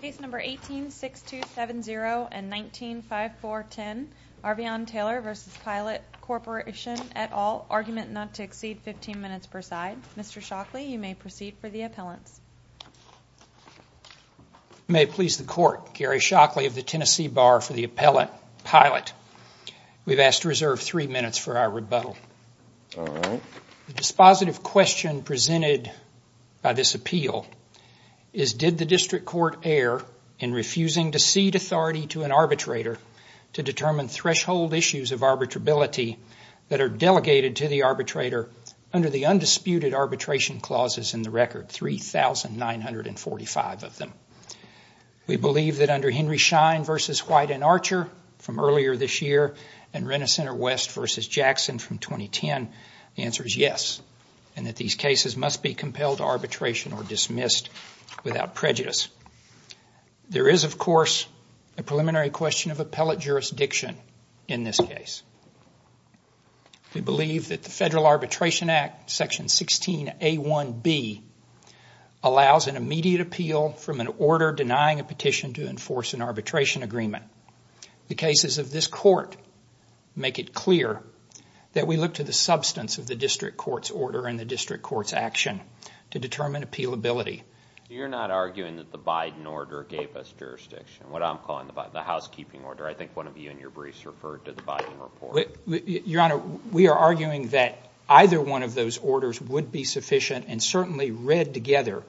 Case number 18-6270 and 19-5410, Arvion Taylor v. Pilot Corporation, et al., argument not to exceed 15 minutes per side. Mr. Shockley, you may proceed for the appellants. You may please the court. Gary Shockley of the Tennessee Bar for the appellant, Pilot. We've asked to reserve three minutes for our rebuttal. Alright. The dispositive question presented by this appeal is did the district court err in refusing to cede authority to an arbitrator to determine threshold issues of arbitrability that are delegated to the arbitrator under the undisputed arbitration clauses in the record, 3,945 of them. We believe that under Henry Schein v. White and Archer from earlier this year and Renner Center West v. Jackson from 2010, the answer is yes, and that these cases must be compelled to arbitration or dismissed without prejudice. There is, of course, a preliminary question of appellate jurisdiction in this case. We believe that the Federal Arbitration Act, section 16A1B, allows an immediate appeal from an order denying a petition to enforce an arbitration agreement. The cases of this court make it clear that we look to the substance of the district court's order and the district court's action to determine appealability. You're not arguing that the Biden order gave us jurisdiction, what I'm calling the housekeeping order. I think one of you in your briefs referred to the Biden report. Your Honor, we are arguing that either one of those orders would be sufficient and certainly read together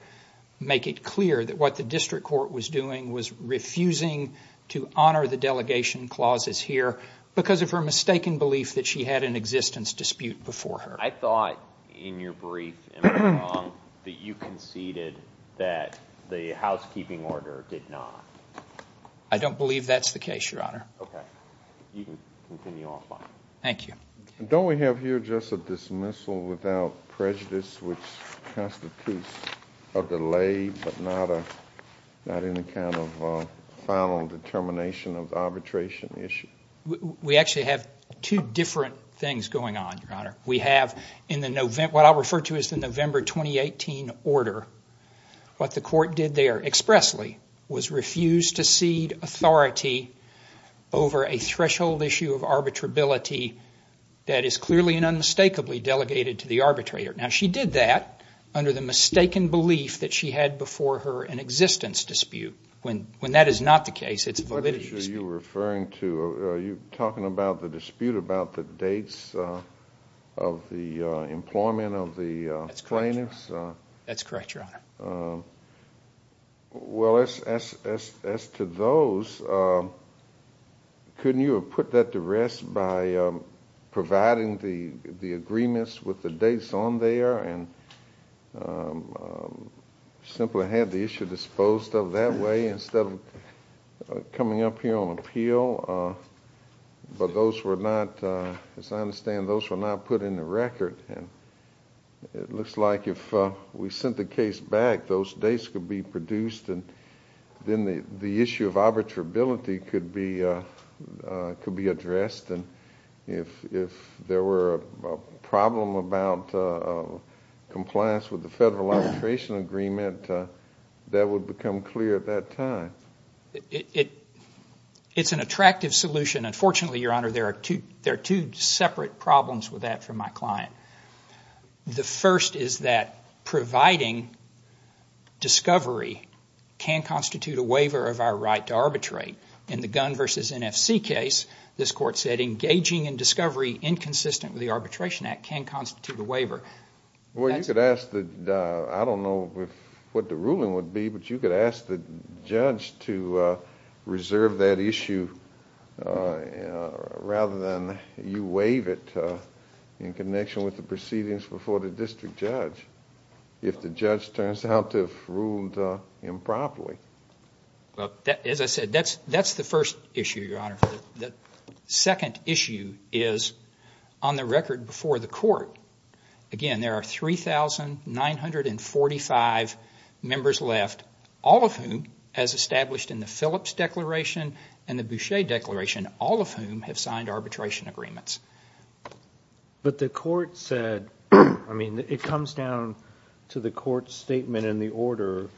make it clear that what the district court was doing was refusing to honor the delegation clauses here because of her mistaken belief that she had an existence dispute before her. I thought in your brief that you conceded that the housekeeping order did not. I don't believe that's the case, Your Honor. Okay. You can continue offline. Thank you. Don't we have here just a dismissal without prejudice, which constitutes a delay but not any kind of final determination of arbitration issue? We actually have two different things going on, Your Honor. We have in the November, what I refer to as the November 2018 order, what the court did there expressly was refuse to cede authority over a threshold issue of arbitrability that is clearly and unmistakably delegated to the arbitrator. Now, she did that under the mistaken belief that she had before her an existence dispute. When that is not the case, it's a validity dispute. What issue are you referring to? Are you talking about the dispute about the dates of the employment of the plaintiffs? That's correct, Your Honor. Well, as to those, couldn't you have put that to rest by providing the agreements with the dates on there and simply had the issue disposed of that way instead of coming up here on appeal? But those were not, as I understand, those were not put in the record. It looks like if we sent the case back, those dates could be produced and then the issue of arbitrability could be addressed. If there were a problem about compliance with the Federal Arbitration Agreement, that would become clear at that time. It's an attractive solution, and fortunately, Your Honor, there are two separate problems with that from my client. The first is that providing discovery can constitute a waiver of our right to arbitrate. In the Gunn v. NFC case, this court said engaging in discovery inconsistent with the Arbitration Act can constitute a waiver. Well, you could ask the, I don't know what the ruling would be, but you could ask the with the proceedings before the district judge if the judge turns out to have ruled improperly. Well, as I said, that's the first issue, Your Honor. The second issue is on the record before the court, again, there are 3,945 members left, all of whom, as established in the Phillips Declaration and the Boucher Declaration, all of whom have signed arbitration agreements. But the court said, I mean, it comes down to the court's statement in the order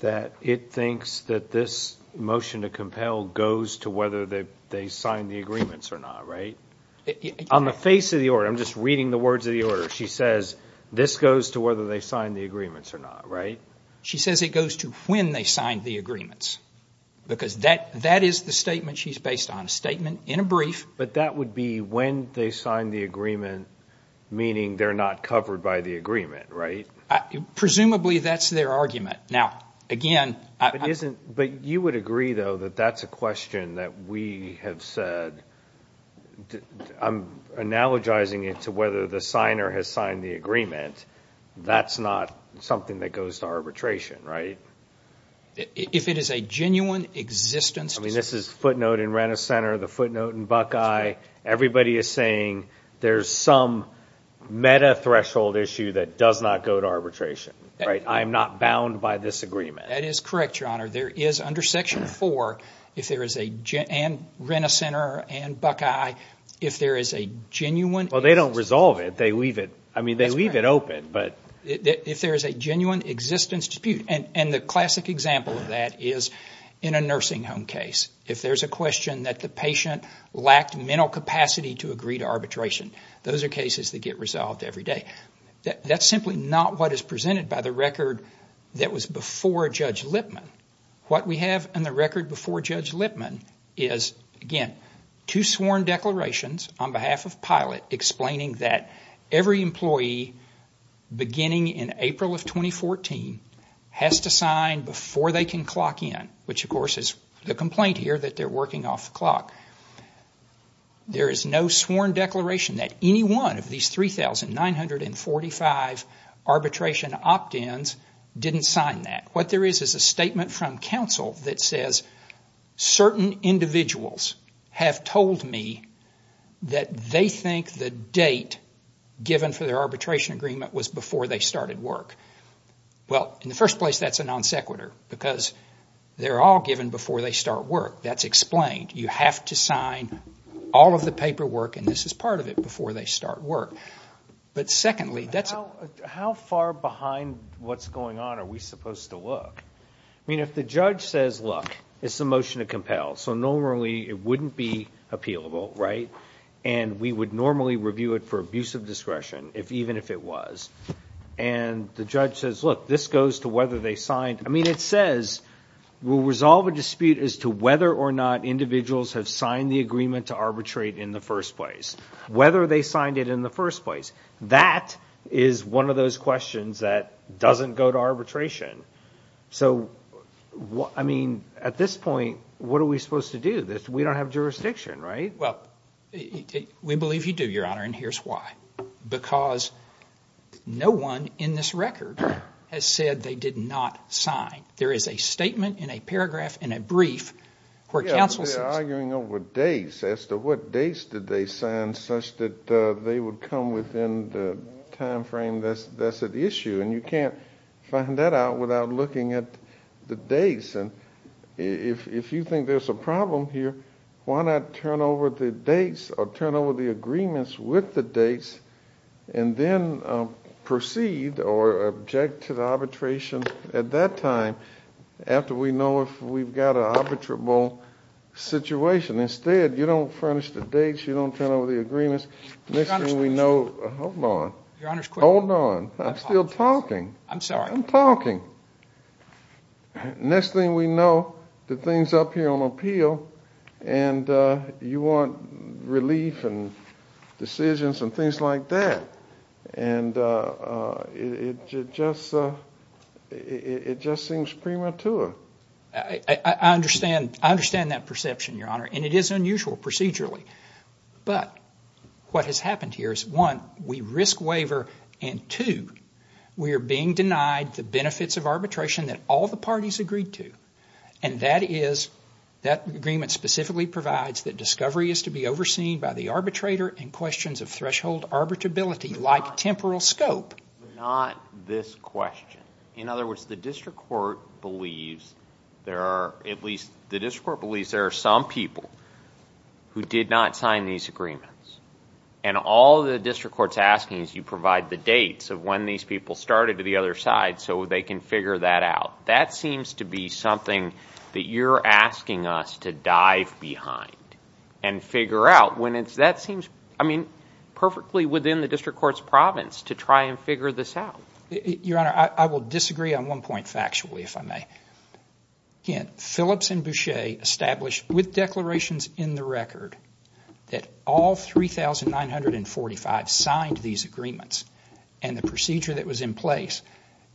that it thinks that this motion to compel goes to whether they signed the agreements or not, right? On the face of the order, I'm just reading the words of the order, she says this goes to whether they signed the agreements or not, right? She says it goes to when they signed the agreements, because that is the statement she's based on, a statement in a brief. But that would be when they signed the agreement, meaning they're not covered by the agreement, right? Presumably, that's their argument. Now, again, it isn't. But you would agree, though, that that's a question that we have said. I'm analogizing it to whether the signer has signed the agreement. That's not something that goes to arbitration, right? If it is a genuine existence dispute. I mean, this is footnote in Renner Center, the footnote in Buckeye. Everybody is saying there's some meta-threshold issue that does not go to arbitration, right? I am not bound by this agreement. That is correct, Your Honor. There is, under Section 4, if there is a Renner Center and Buckeye, if there is a genuine existence dispute. Well, they don't resolve it. They leave it, I mean, they leave it open. If there is a genuine existence dispute, and the classic example of that is in a nursing home case. If there's a question that the patient lacked mental capacity to agree to arbitration, those are cases that get resolved every day. That's simply not what is presented by the record that was before Judge Lipman. What we have in the record before Judge Lipman is, again, two sworn declarations on behalf of PILOT explaining that every employee beginning in April of 2014 has to sign before they can clock in, which, of course, is the complaint here that they're working off the clock. There is no sworn declaration that any one of these 3,945 arbitration opt-ins didn't sign that. What there is is a statement from counsel that says certain individuals have told me that they think the date given for their arbitration agreement was before they started work. Well, in the first place, that's a non sequitur, because they're all given before they start work. That's explained. You have to sign all of the paperwork, and this is part of it, before they start work. But secondly, that's- I mean, if the judge says, look, it's a motion to compel, so normally it wouldn't be appealable, right? And we would normally review it for abuse of discretion, even if it was. And the judge says, look, this goes to whether they signed- I mean, it says we'll resolve a dispute as to whether or not individuals have signed the agreement to arbitrate in the first place, whether they signed it in the first place. That is one of those questions that doesn't go to arbitration. So I mean, at this point, what are we supposed to do? We don't have jurisdiction, right? Well, we believe you do, Your Honor, and here's why. Because no one in this record has said they did not sign. There is a statement in a paragraph in a brief where counsel says- Yeah, but they're arguing over dates as to what dates did they sign such that they would come within the time frame that's at issue. And you can't find that out without looking at the dates. And if you think there's a problem here, why not turn over the dates or turn over the agreements with the dates and then proceed or object to the arbitration at that time after we know if we've got an arbitrable situation? Instead, you don't furnish the dates, you don't turn over the agreements. Next thing we know- Your Honor's question- Hold on. Your Honor's question- Hold on. I'm still talking. I'm sorry. I'm talking. Next thing we know, the thing's up here on appeal, and you want relief and decisions and things like that. And it just seems premature. I understand that perception, Your Honor, and it is unusual procedurally. But what has happened here is, one, we risk waiver, and two, we are being denied the benefits of arbitration that all the parties agreed to. And that is, that agreement specifically provides that discovery is to be overseen by the arbitrator in questions of threshold arbitrability like temporal scope. Not this question. In other words, the district court believes there are, at least the district court believes there are some people who did not sign these agreements. And all the district court's asking is you provide the dates of when these people started to the other side so they can figure that out. That seems to be something that you're asking us to dive behind and figure out when it's... That seems, I mean, perfectly within the district court's province to try and figure this out. Your Honor, I will disagree on one point factually, if I may. Again, Phillips and Boucher established with declarations in the record that all 3,945 signed these agreements and the procedure that was in place.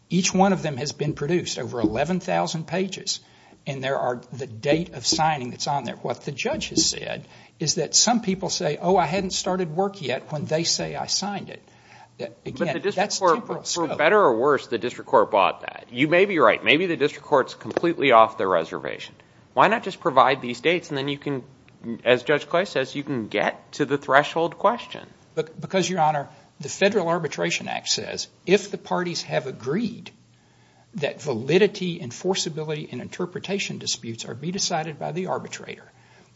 Each one of them has been produced, over 11,000 pages, and there are the date of signing that's on there. What the judge has said is that some people say, oh, I hadn't started work yet when they say I signed it. Again, that's temporal scope. But the district court, for better or worse, the district court bought that. You may be right. Maybe the district court's completely off the reservation. Why not just provide these dates and then you can, as Judge Coy says, you can get to the threshold question? Because Your Honor, the Federal Arbitration Act says if the parties have agreed that validity and forcibility and interpretation disputes are to be decided by the arbitrator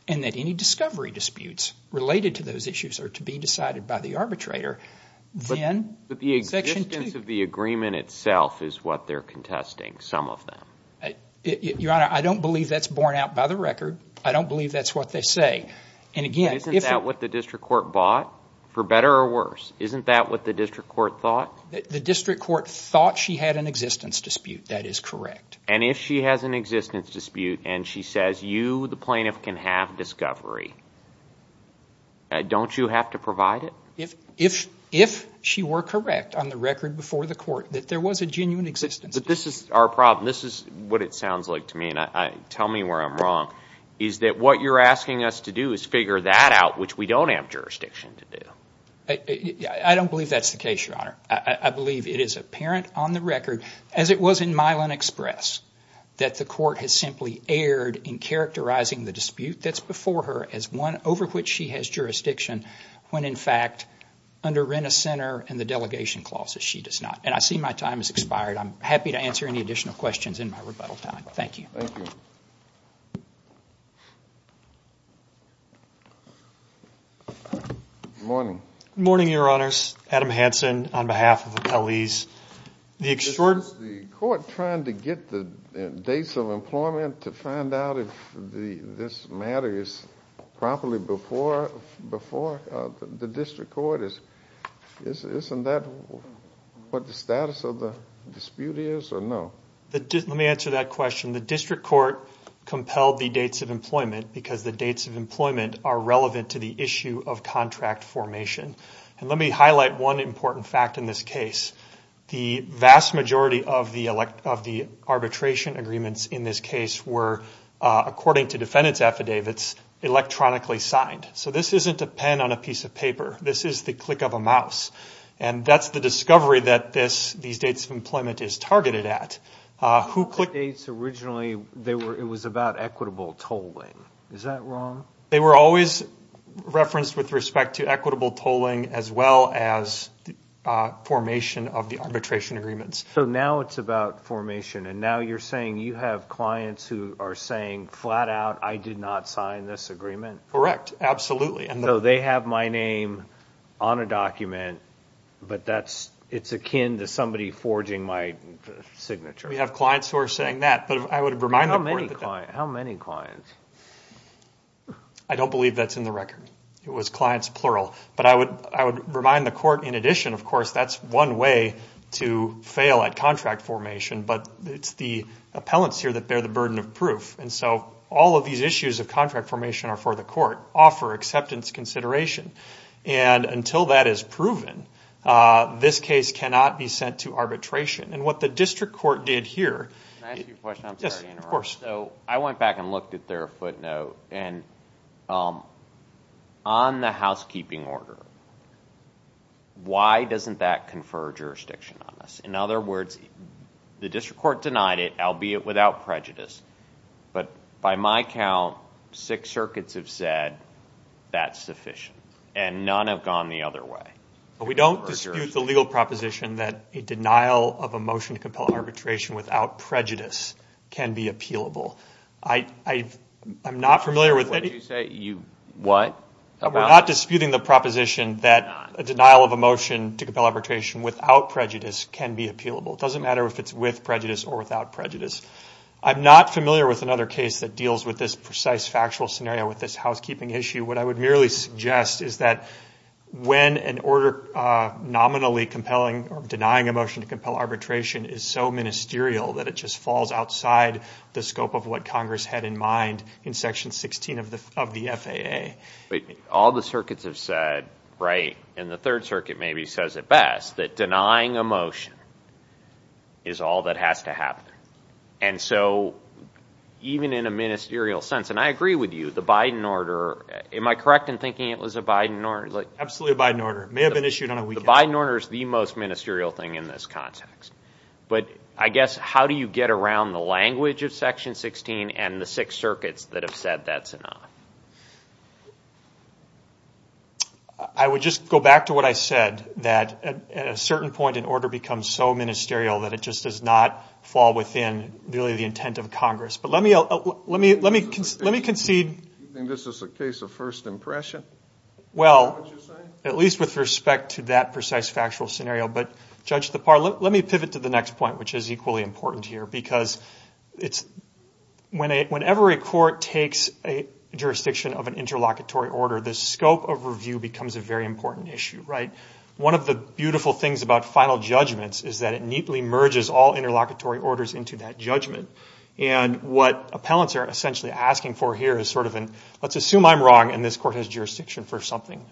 and that any discovery disputes related to those issues are to be decided by the arbitrator, then the existence of the agreement itself is what they're contesting, some of them. Your Honor, I don't believe that's borne out by the record. I don't believe that's what they say. Isn't that what the district court bought? For better or worse, isn't that what the district court thought? The district court thought she had an existence dispute. That is correct. And if she has an existence dispute and she says you, the plaintiff, can have discovery, don't you have to provide it? If she were correct on the record before the court that there was a genuine existence dispute. This is our problem. This is what it sounds like to me, and tell me where I'm wrong, is that what you're asking us to do is figure that out, which we don't have jurisdiction to do. I don't believe that's the case, Your Honor. I believe it is apparent on the record, as it was in Milan Express, that the court has simply erred in characterizing the dispute that's before her as one over which she has under rent a center and the delegation clause that she does not. And I see my time has expired. I'm happy to answer any additional questions in my rebuttal time. Thank you. Thank you. Good morning. Good morning, Your Honors. Adam Hansen on behalf of the police. The court trying to get the dates of employment to find out if this matter is properly before the district court. Isn't that what the status of the dispute is, or no? Let me answer that question. The district court compelled the dates of employment because the dates of employment are relevant to the issue of contract formation. Let me highlight one important fact in this case. The vast majority of the arbitration agreements in this case were, according to defendant's affidavits, electronically signed. So this isn't a pen on a piece of paper. This is the click of a mouse. And that's the discovery that these dates of employment is targeted at. Who clicked... The dates originally, it was about equitable tolling. Is that wrong? They were always referenced with respect to equitable tolling as well as formation of the arbitration agreements. So now it's about formation. And now you're saying you have clients who are saying flat out, I did not sign this agreement? Correct. Absolutely. So they have my name on a document, but it's akin to somebody forging my signature. We have clients who are saying that, but I would remind the court that... How many clients? I don't believe that's in the record. It was clients, plural. But I would remind the court, in addition, of course, that's one way to fail at contract formation, but it's the appellants here that bear the burden of proof. And so all of these issues of contract formation are for the court, offer acceptance consideration. And until that is proven, this case cannot be sent to arbitration. And what the district court did here... Can I ask you a question? I'm sorry to interrupt. Yes, of course. So I went back and looked at their footnote, and on the housekeeping order, why doesn't that confer jurisdiction on us? In other words, the district court denied it, albeit without prejudice. But by my count, six circuits have said that's sufficient, and none have gone the other way. We don't dispute the legal proposition that a denial of a motion to compel arbitration without prejudice can be appealable. I'm not familiar with any... What? We're not disputing the proposition that a denial of a motion to compel arbitration without prejudice can be appealable. It doesn't matter if it's with prejudice or without prejudice. I'm not familiar with another case that deals with this precise factual scenario with this housekeeping issue. What I would merely suggest is that when an order nominally compelling or denying a motion to compel arbitration is so ministerial that it just falls outside the scope of what Congress had in mind in section 16 of the FAA. All the circuits have said, right, and the third circuit maybe says it best, that denying a motion is all that has to happen. And so even in a ministerial sense, and I agree with you, the Biden order... Am I correct in thinking it was a Biden order? Absolutely a Biden order. It may have been issued on a weekend. The Biden order is the most ministerial thing in this context. But I guess, how do you get around the language of section 16 and the six circuits that have been listed on it? I would just go back to what I said, that at a certain point, an order becomes so ministerial that it just does not fall within really the intent of Congress. But let me concede... Do you think this is a case of first impression, is that what you're saying? Well, at least with respect to that precise factual scenario. But Judge DeParle, let me pivot to the next point, which is equally important here. Because whenever a court takes a jurisdiction of an interlocutory order, the scope of review becomes a very important issue. One of the beautiful things about final judgments is that it neatly merges all interlocutory orders into that judgment. And what appellants are essentially asking for here is sort of an, let's assume I'm wrong and this court has jurisdiction for something.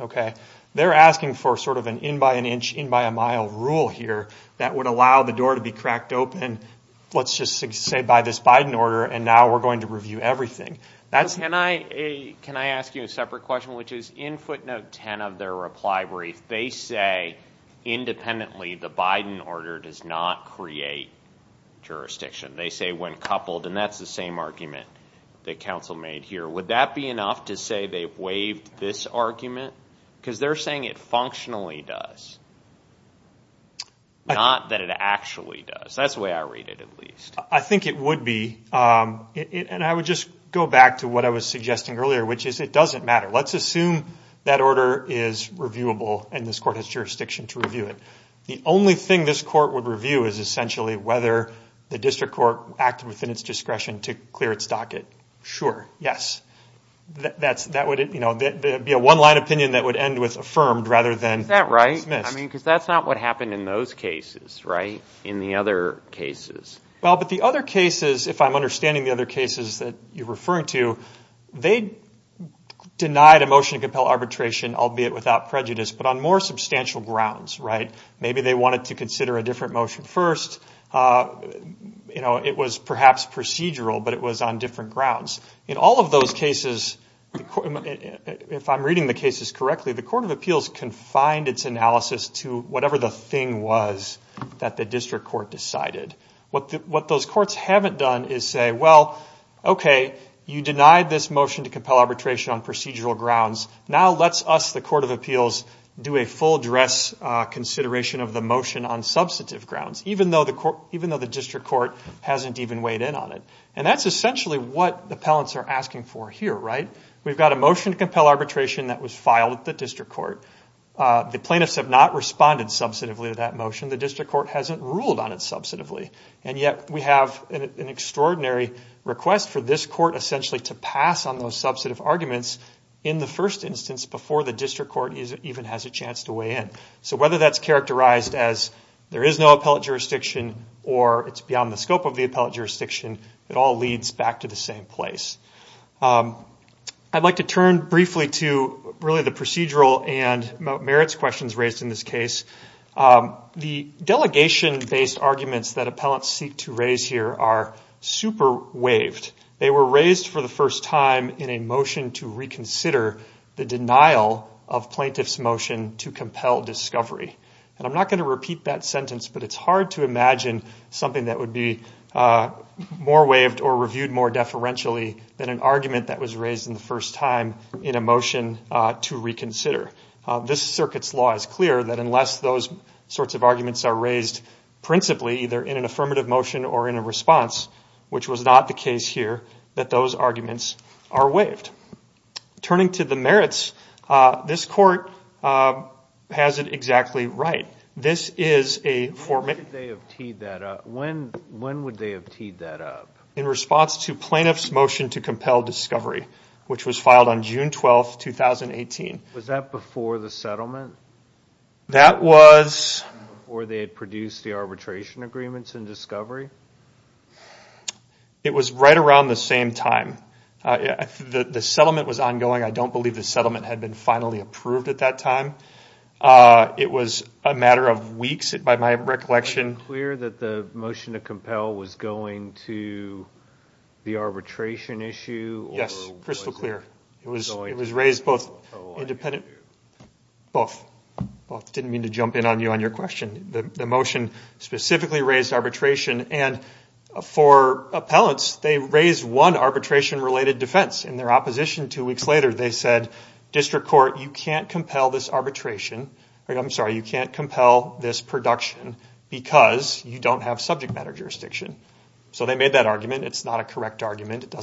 They're asking for sort of an in by an inch, in by a mile rule here that would allow the door to be cracked open. Let's just say by this Biden order, and now we're going to review everything. Can I ask you a separate question, which is in footnote 10 of their reply brief, they say independently, the Biden order does not create jurisdiction. They say when coupled, and that's the same argument that counsel made here. Would that be enough to say they've waived this argument? Because they're saying it functionally does, not that it actually does. That's the way I read it at least. I think it would be. And I would just go back to what I was suggesting earlier, which is it doesn't matter. Let's assume that order is reviewable and this court has jurisdiction to review it. The only thing this court would review is essentially whether the district court acted within its discretion to clear its docket. Sure. Yes. That would be a one line opinion that would end with affirmed rather than dismissed. Is that right? I mean, because that's not what happened in those cases, right? In the other cases. Well, but the other cases, if I'm understanding the other cases that you're referring to, they denied a motion to compel arbitration, albeit without prejudice, but on more substantial grounds, right? Maybe they wanted to consider a different motion first. It was perhaps procedural, but it was on different grounds. In all of those cases, if I'm reading the cases correctly, the Court of Appeals confined its analysis to whatever the thing was that the district court decided. What those courts haven't done is say, well, okay, you denied this motion to compel arbitration on procedural grounds. Now let's us, the Court of Appeals, do a full dress consideration of the motion on substantive grounds, even though the district court hasn't even weighed in on it. And that's essentially what the appellants are asking for here, right? We've got a motion to compel arbitration that was filed at the district court. The plaintiffs have not responded substantively to that motion. The district court hasn't ruled on it substantively. And yet we have an extraordinary request for this court essentially to pass on those substantive arguments in the first instance before the district court even has a chance to weigh in. So whether that's characterized as there is no appellate jurisdiction or it's beyond the scope of the appellate jurisdiction, it all leads back to the same place. I'd like to turn briefly to really the procedural and merits questions raised in this case. The delegation-based arguments that appellants seek to raise here are super waived. They were raised for the first time in a motion to reconsider the denial of plaintiff's motion to compel discovery. And I'm not going to repeat that sentence, but it's hard to imagine something that would be more waived or reviewed more deferentially than an argument that was raised in the first time in a motion to reconsider. This circuit's law is clear that unless those sorts of arguments are raised principally either in an affirmative motion or in a response, which was not the case here, that those arguments are waived. Turning to the merits, this court has it exactly right. When would they have teed that up? In response to plaintiff's motion to compel discovery, which was filed on June 12, 2018. Was that before the settlement? That was... Before they had produced the arbitration agreements and discovery? It was right around the same time. The settlement was ongoing. I don't believe the settlement had been finally approved at that time. It was a matter of weeks by my recollection. Was it clear that the motion to compel was going to the arbitration issue? Yes. Crystal clear. It was raised both independent... Both. Both. Didn't mean to jump in on you on your question. The motion specifically raised arbitration, and for appellants, they raised one arbitration related defense. In their opposition two weeks later, they said, District Court, you can't compel this arbitration... I'm sorry, you can't compel this production because you don't have subject matter jurisdiction. They made that argument. It's not a correct argument.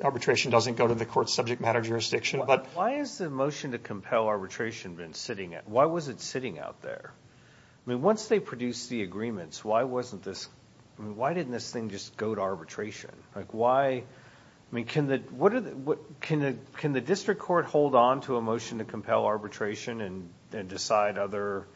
Arbitration doesn't go to the court's subject matter jurisdiction. Why is the motion to compel arbitration been sitting... Why was it sitting out there? Once they produced the agreements, why wasn't this... Why didn't this thing just go to arbitration? Can the district court hold on to a motion to compel arbitration and decide other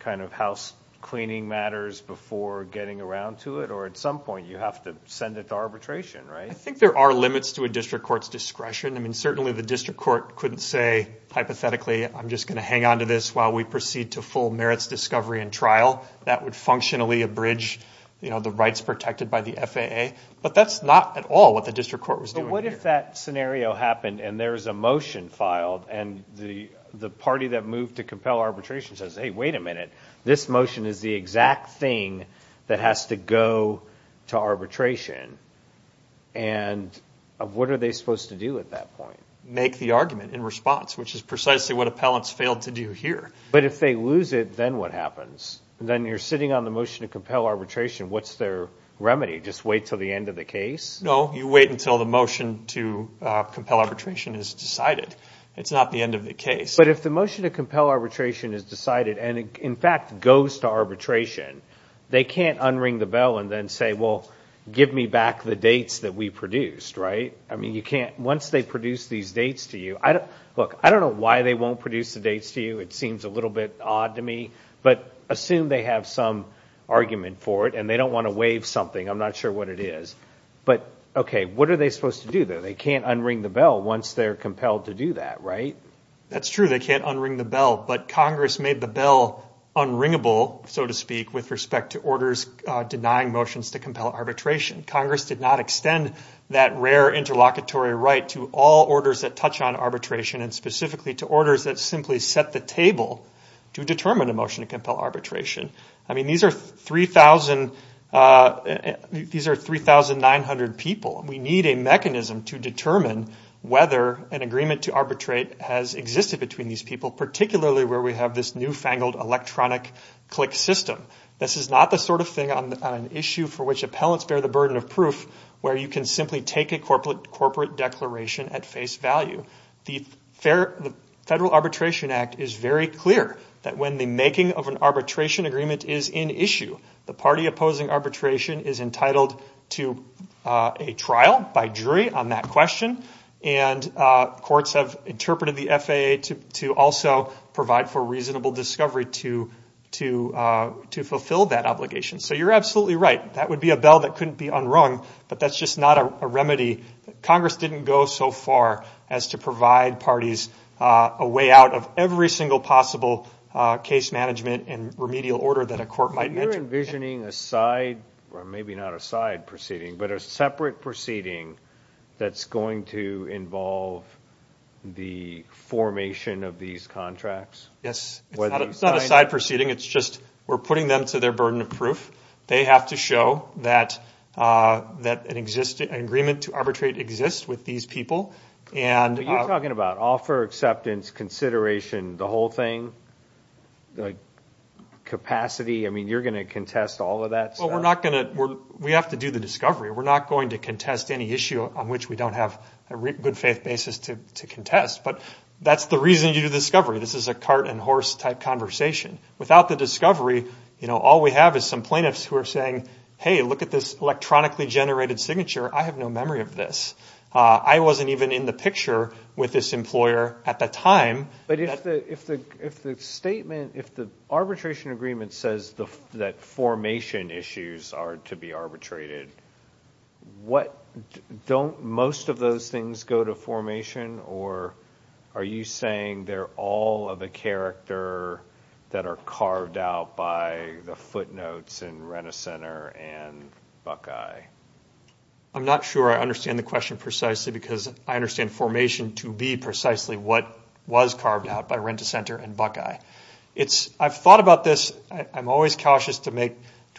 kind of house cleaning matters before getting around to it, or at some point, you have to send it to arbitration? I think there are limits to a district court's discretion. Certainly the district court couldn't say, hypothetically, I'm just going to hang onto this while we proceed to full merits discovery and trial. That would functionally abridge the rights protected by the FAA. That's not at all what the district court was doing here. What if that scenario happened and there's a motion filed and the party that moved to compel arbitration says, hey, wait a minute. This motion is the exact thing that has to go to arbitration. What are they supposed to do at that point? Make the argument in response, which is precisely what appellants failed to do here. If they lose it, then what happens? Then you're sitting on the motion to compel arbitration. What's their remedy? Just wait until the end of the case? No. You wait until the motion to compel arbitration is decided. It's not the end of the case. But if the motion to compel arbitration is decided and, in fact, goes to arbitration, they can't unring the bell and then say, well, give me back the dates that we produced, right? Once they produce these dates to you, look, I don't know why they won't produce the dates to you. It seems a little bit odd to me, but assume they have some argument for it and they don't want to waive something. I'm not sure what it is. But, okay, what are they supposed to do, though? They can't unring the bell once they're compelled to do that, right? That's true. They can't unring the bell. But Congress made the bell unringable, so to speak, with respect to orders denying motions to compel arbitration. Congress did not extend that rare interlocutory right to all orders that touch on arbitration and specifically to orders that simply set the table to determine a motion to compel arbitration. I mean, these are 3,900 people. We need a mechanism to determine whether an agreement to arbitrate has existed between these people, particularly where we have this newfangled electronic click system. This is not the sort of thing on an issue for which appellants bear the burden of proof where you can simply take a corporate declaration at face value. The Federal Arbitration Act is very clear that when the making of an arbitration agreement is in issue, the party opposing arbitration is entitled to a trial by jury on that question. And courts have interpreted the FAA to also provide for reasonable discovery to fulfill that obligation. So you're absolutely right. That would be a bell that couldn't be unrung, but that's just not a remedy. Congress didn't go so far as to provide parties a way out of every single possible case management and remedial order that a court might mention. But you're envisioning a side, or maybe not a side proceeding, but a separate proceeding that's going to involve the formation of these contracts? Yes. It's not a side proceeding. It's just we're putting them to their burden of proof. They have to show that an agreement to arbitrate exists with these people. But you're talking about offer, acceptance, consideration, the whole thing, the capacity. I mean, you're going to contest all of that stuff? Well, we have to do the discovery. We're not going to contest any issue on which we don't have a good faith basis to contest. But that's the reason you do discovery. This is a cart and horse type conversation. Without the discovery, all we have is some plaintiffs who are saying, hey, look at this electronically generated signature. I have no memory of this. I wasn't even in the picture with this employer at the time. But if the arbitration agreement says that formation issues are to be arbitrated, don't most of those things go to formation? Or are you saying they're all of a character that are carved out by the footnotes in Rent-A-Center and Buckeye? I'm not sure I understand the question precisely because I understand formation to be precisely what was carved out by Rent-A-Center and Buckeye. I've thought about this. I'm always cautious to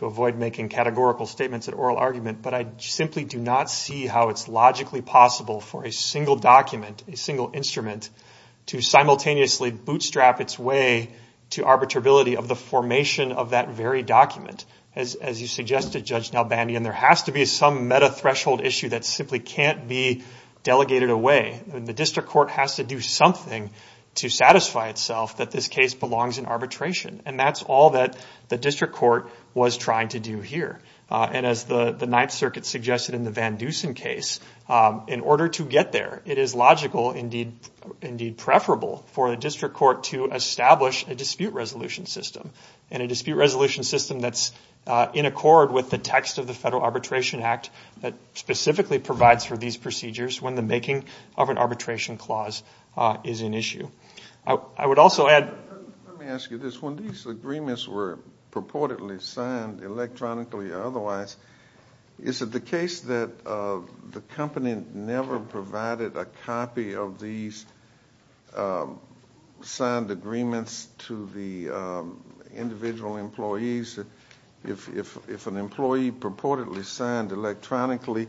avoid making categorical statements at oral argument, but I simply do not see how it's logically possible for a single document, a single instrument to simultaneously bootstrap its way to arbitrability of the formation of that very document. As you suggested, Judge Nelbandian, there has to be some meta-threshold issue that simply can't be delegated away. The district court has to do something to satisfy itself that this case belongs in arbitration. That's all that the district court was trying to do here. As the Ninth Circuit suggested in the Van Dusen case, in order to get there, it is logical, indeed, preferable for the district court to establish a dispute resolution system, and a dispute resolution system that's in accord with the text of the Federal Arbitration Act that specifically provides for these procedures when the making of an arbitration clause is an issue. I would also add- Is it the case that the company never provided a copy of these signed agreements to the individual employees? If an employee purportedly signed electronically,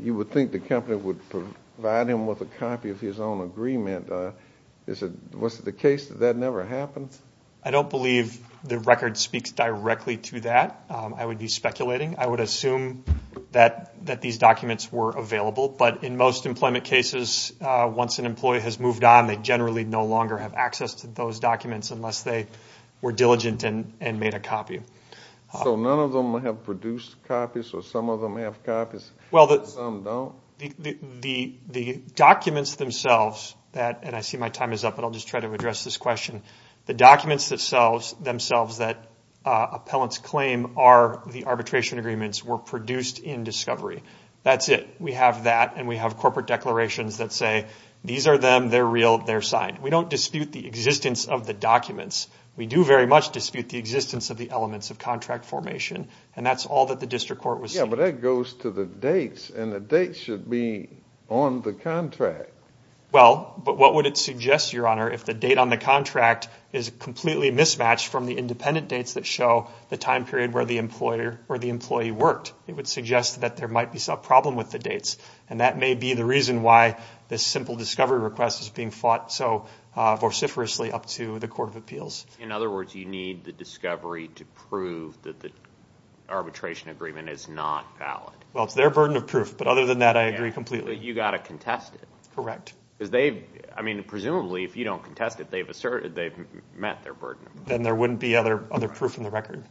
you would think the company would provide him with a copy of his own agreement. Was it the case that that never happened? I don't believe the record speaks directly to that. I would be speculating. I would assume that these documents were available. But in most employment cases, once an employee has moved on, they generally no longer have access to those documents unless they were diligent and made a copy. So none of them have produced copies, or some of them have copies, and some don't? The documents themselves- and I see my time is up, but I'll just try to address this question. The documents themselves that appellants claim are the arbitration agreements were produced in discovery. That's it. We have that, and we have corporate declarations that say, these are them, they're real, they're signed. We don't dispute the existence of the documents. We do very much dispute the existence of the elements of contract formation, and that's all that the district court was- Yeah, but that goes to the dates, and the dates should be on the contract. Well, but what would it suggest, Your Honor, if the date on the contract is completely mismatched from the independent dates that show the time period where the employee worked? It would suggest that there might be some problem with the dates, and that may be the reason why this simple discovery request is being fought so vociferously up to the Court of Appeals. In other words, you need the discovery to prove that the arbitration agreement is not valid. Well, it's their burden of proof, but other than that, I agree completely. You've got to contest it. Correct. Because they, I mean, presumably, if you don't contest it, they've asserted, they've met their burden of proof. Then there wouldn't be other proof in the record.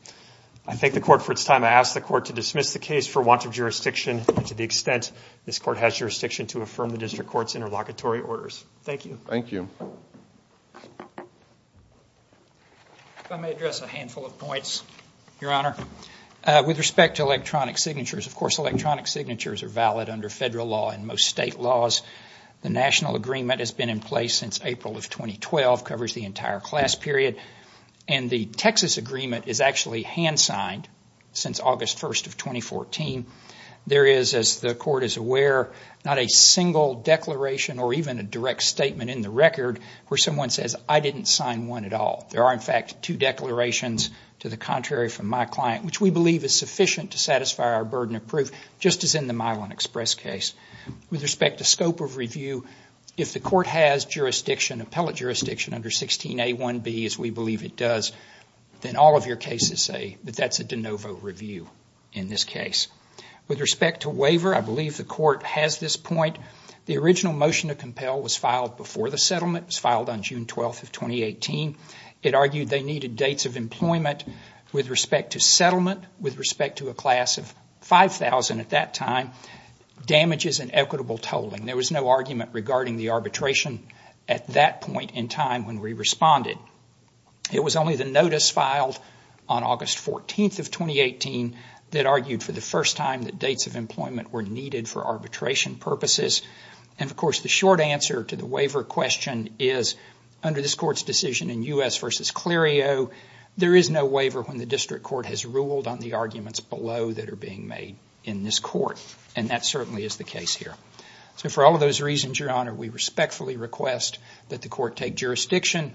I thank the court for its time. I ask the court to dismiss the case for want of jurisdiction to the extent this court has jurisdiction to affirm the district court's interlocutory orders. Thank you. Thank you. If I may address a handful of points, Your Honor. With respect to electronic signatures, of course, electronic signatures are valid under federal law and most state laws. The national agreement has been in place since April of 2012, covers the entire class period, and the Texas agreement is actually hand-signed since August 1st of 2014. There is, as the court is aware, not a single declaration or even a direct statement in the record where someone says, I didn't sign one at all. There are, in fact, two declarations to the contrary from my client, which we believe is sufficient to satisfy our burden of proof, just as in the Milan Express case. With respect to scope of review, if the court has jurisdiction, appellate jurisdiction under 16A1B, as we believe it does, then all of your cases say that that's a de novo review in this case. With respect to waiver, I believe the court has this point. The original motion to compel was filed before the settlement was filed on June 12th of 2018. It argued they needed dates of employment with respect to settlement, with respect to a class of 5,000 at that time, damages, and equitable tolling. There was no argument regarding the arbitration at that point in time when we responded. It was only the notice filed on August 14th of 2018 that argued for the first time that dates of employment were needed for arbitration purposes, and of course, the short answer to the waiver question is, under this court's decision in U.S. v. Clerio, there is no waiver when the district court has ruled on the arguments below that are being made in this court, and that certainly is the case here. For all of those reasons, Your Honor, we respectfully request that the court take jurisdiction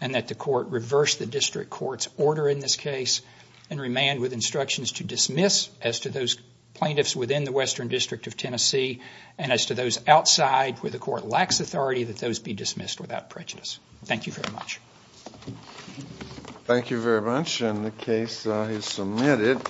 and that the court reverse the district court's order in this case and remand with instructions to dismiss as to those plaintiffs within the Western District of Tennessee and as to those outside where the court lacks authority, that those be dismissed without prejudice. Thank you very much. Thank you very much, and the case is submitted.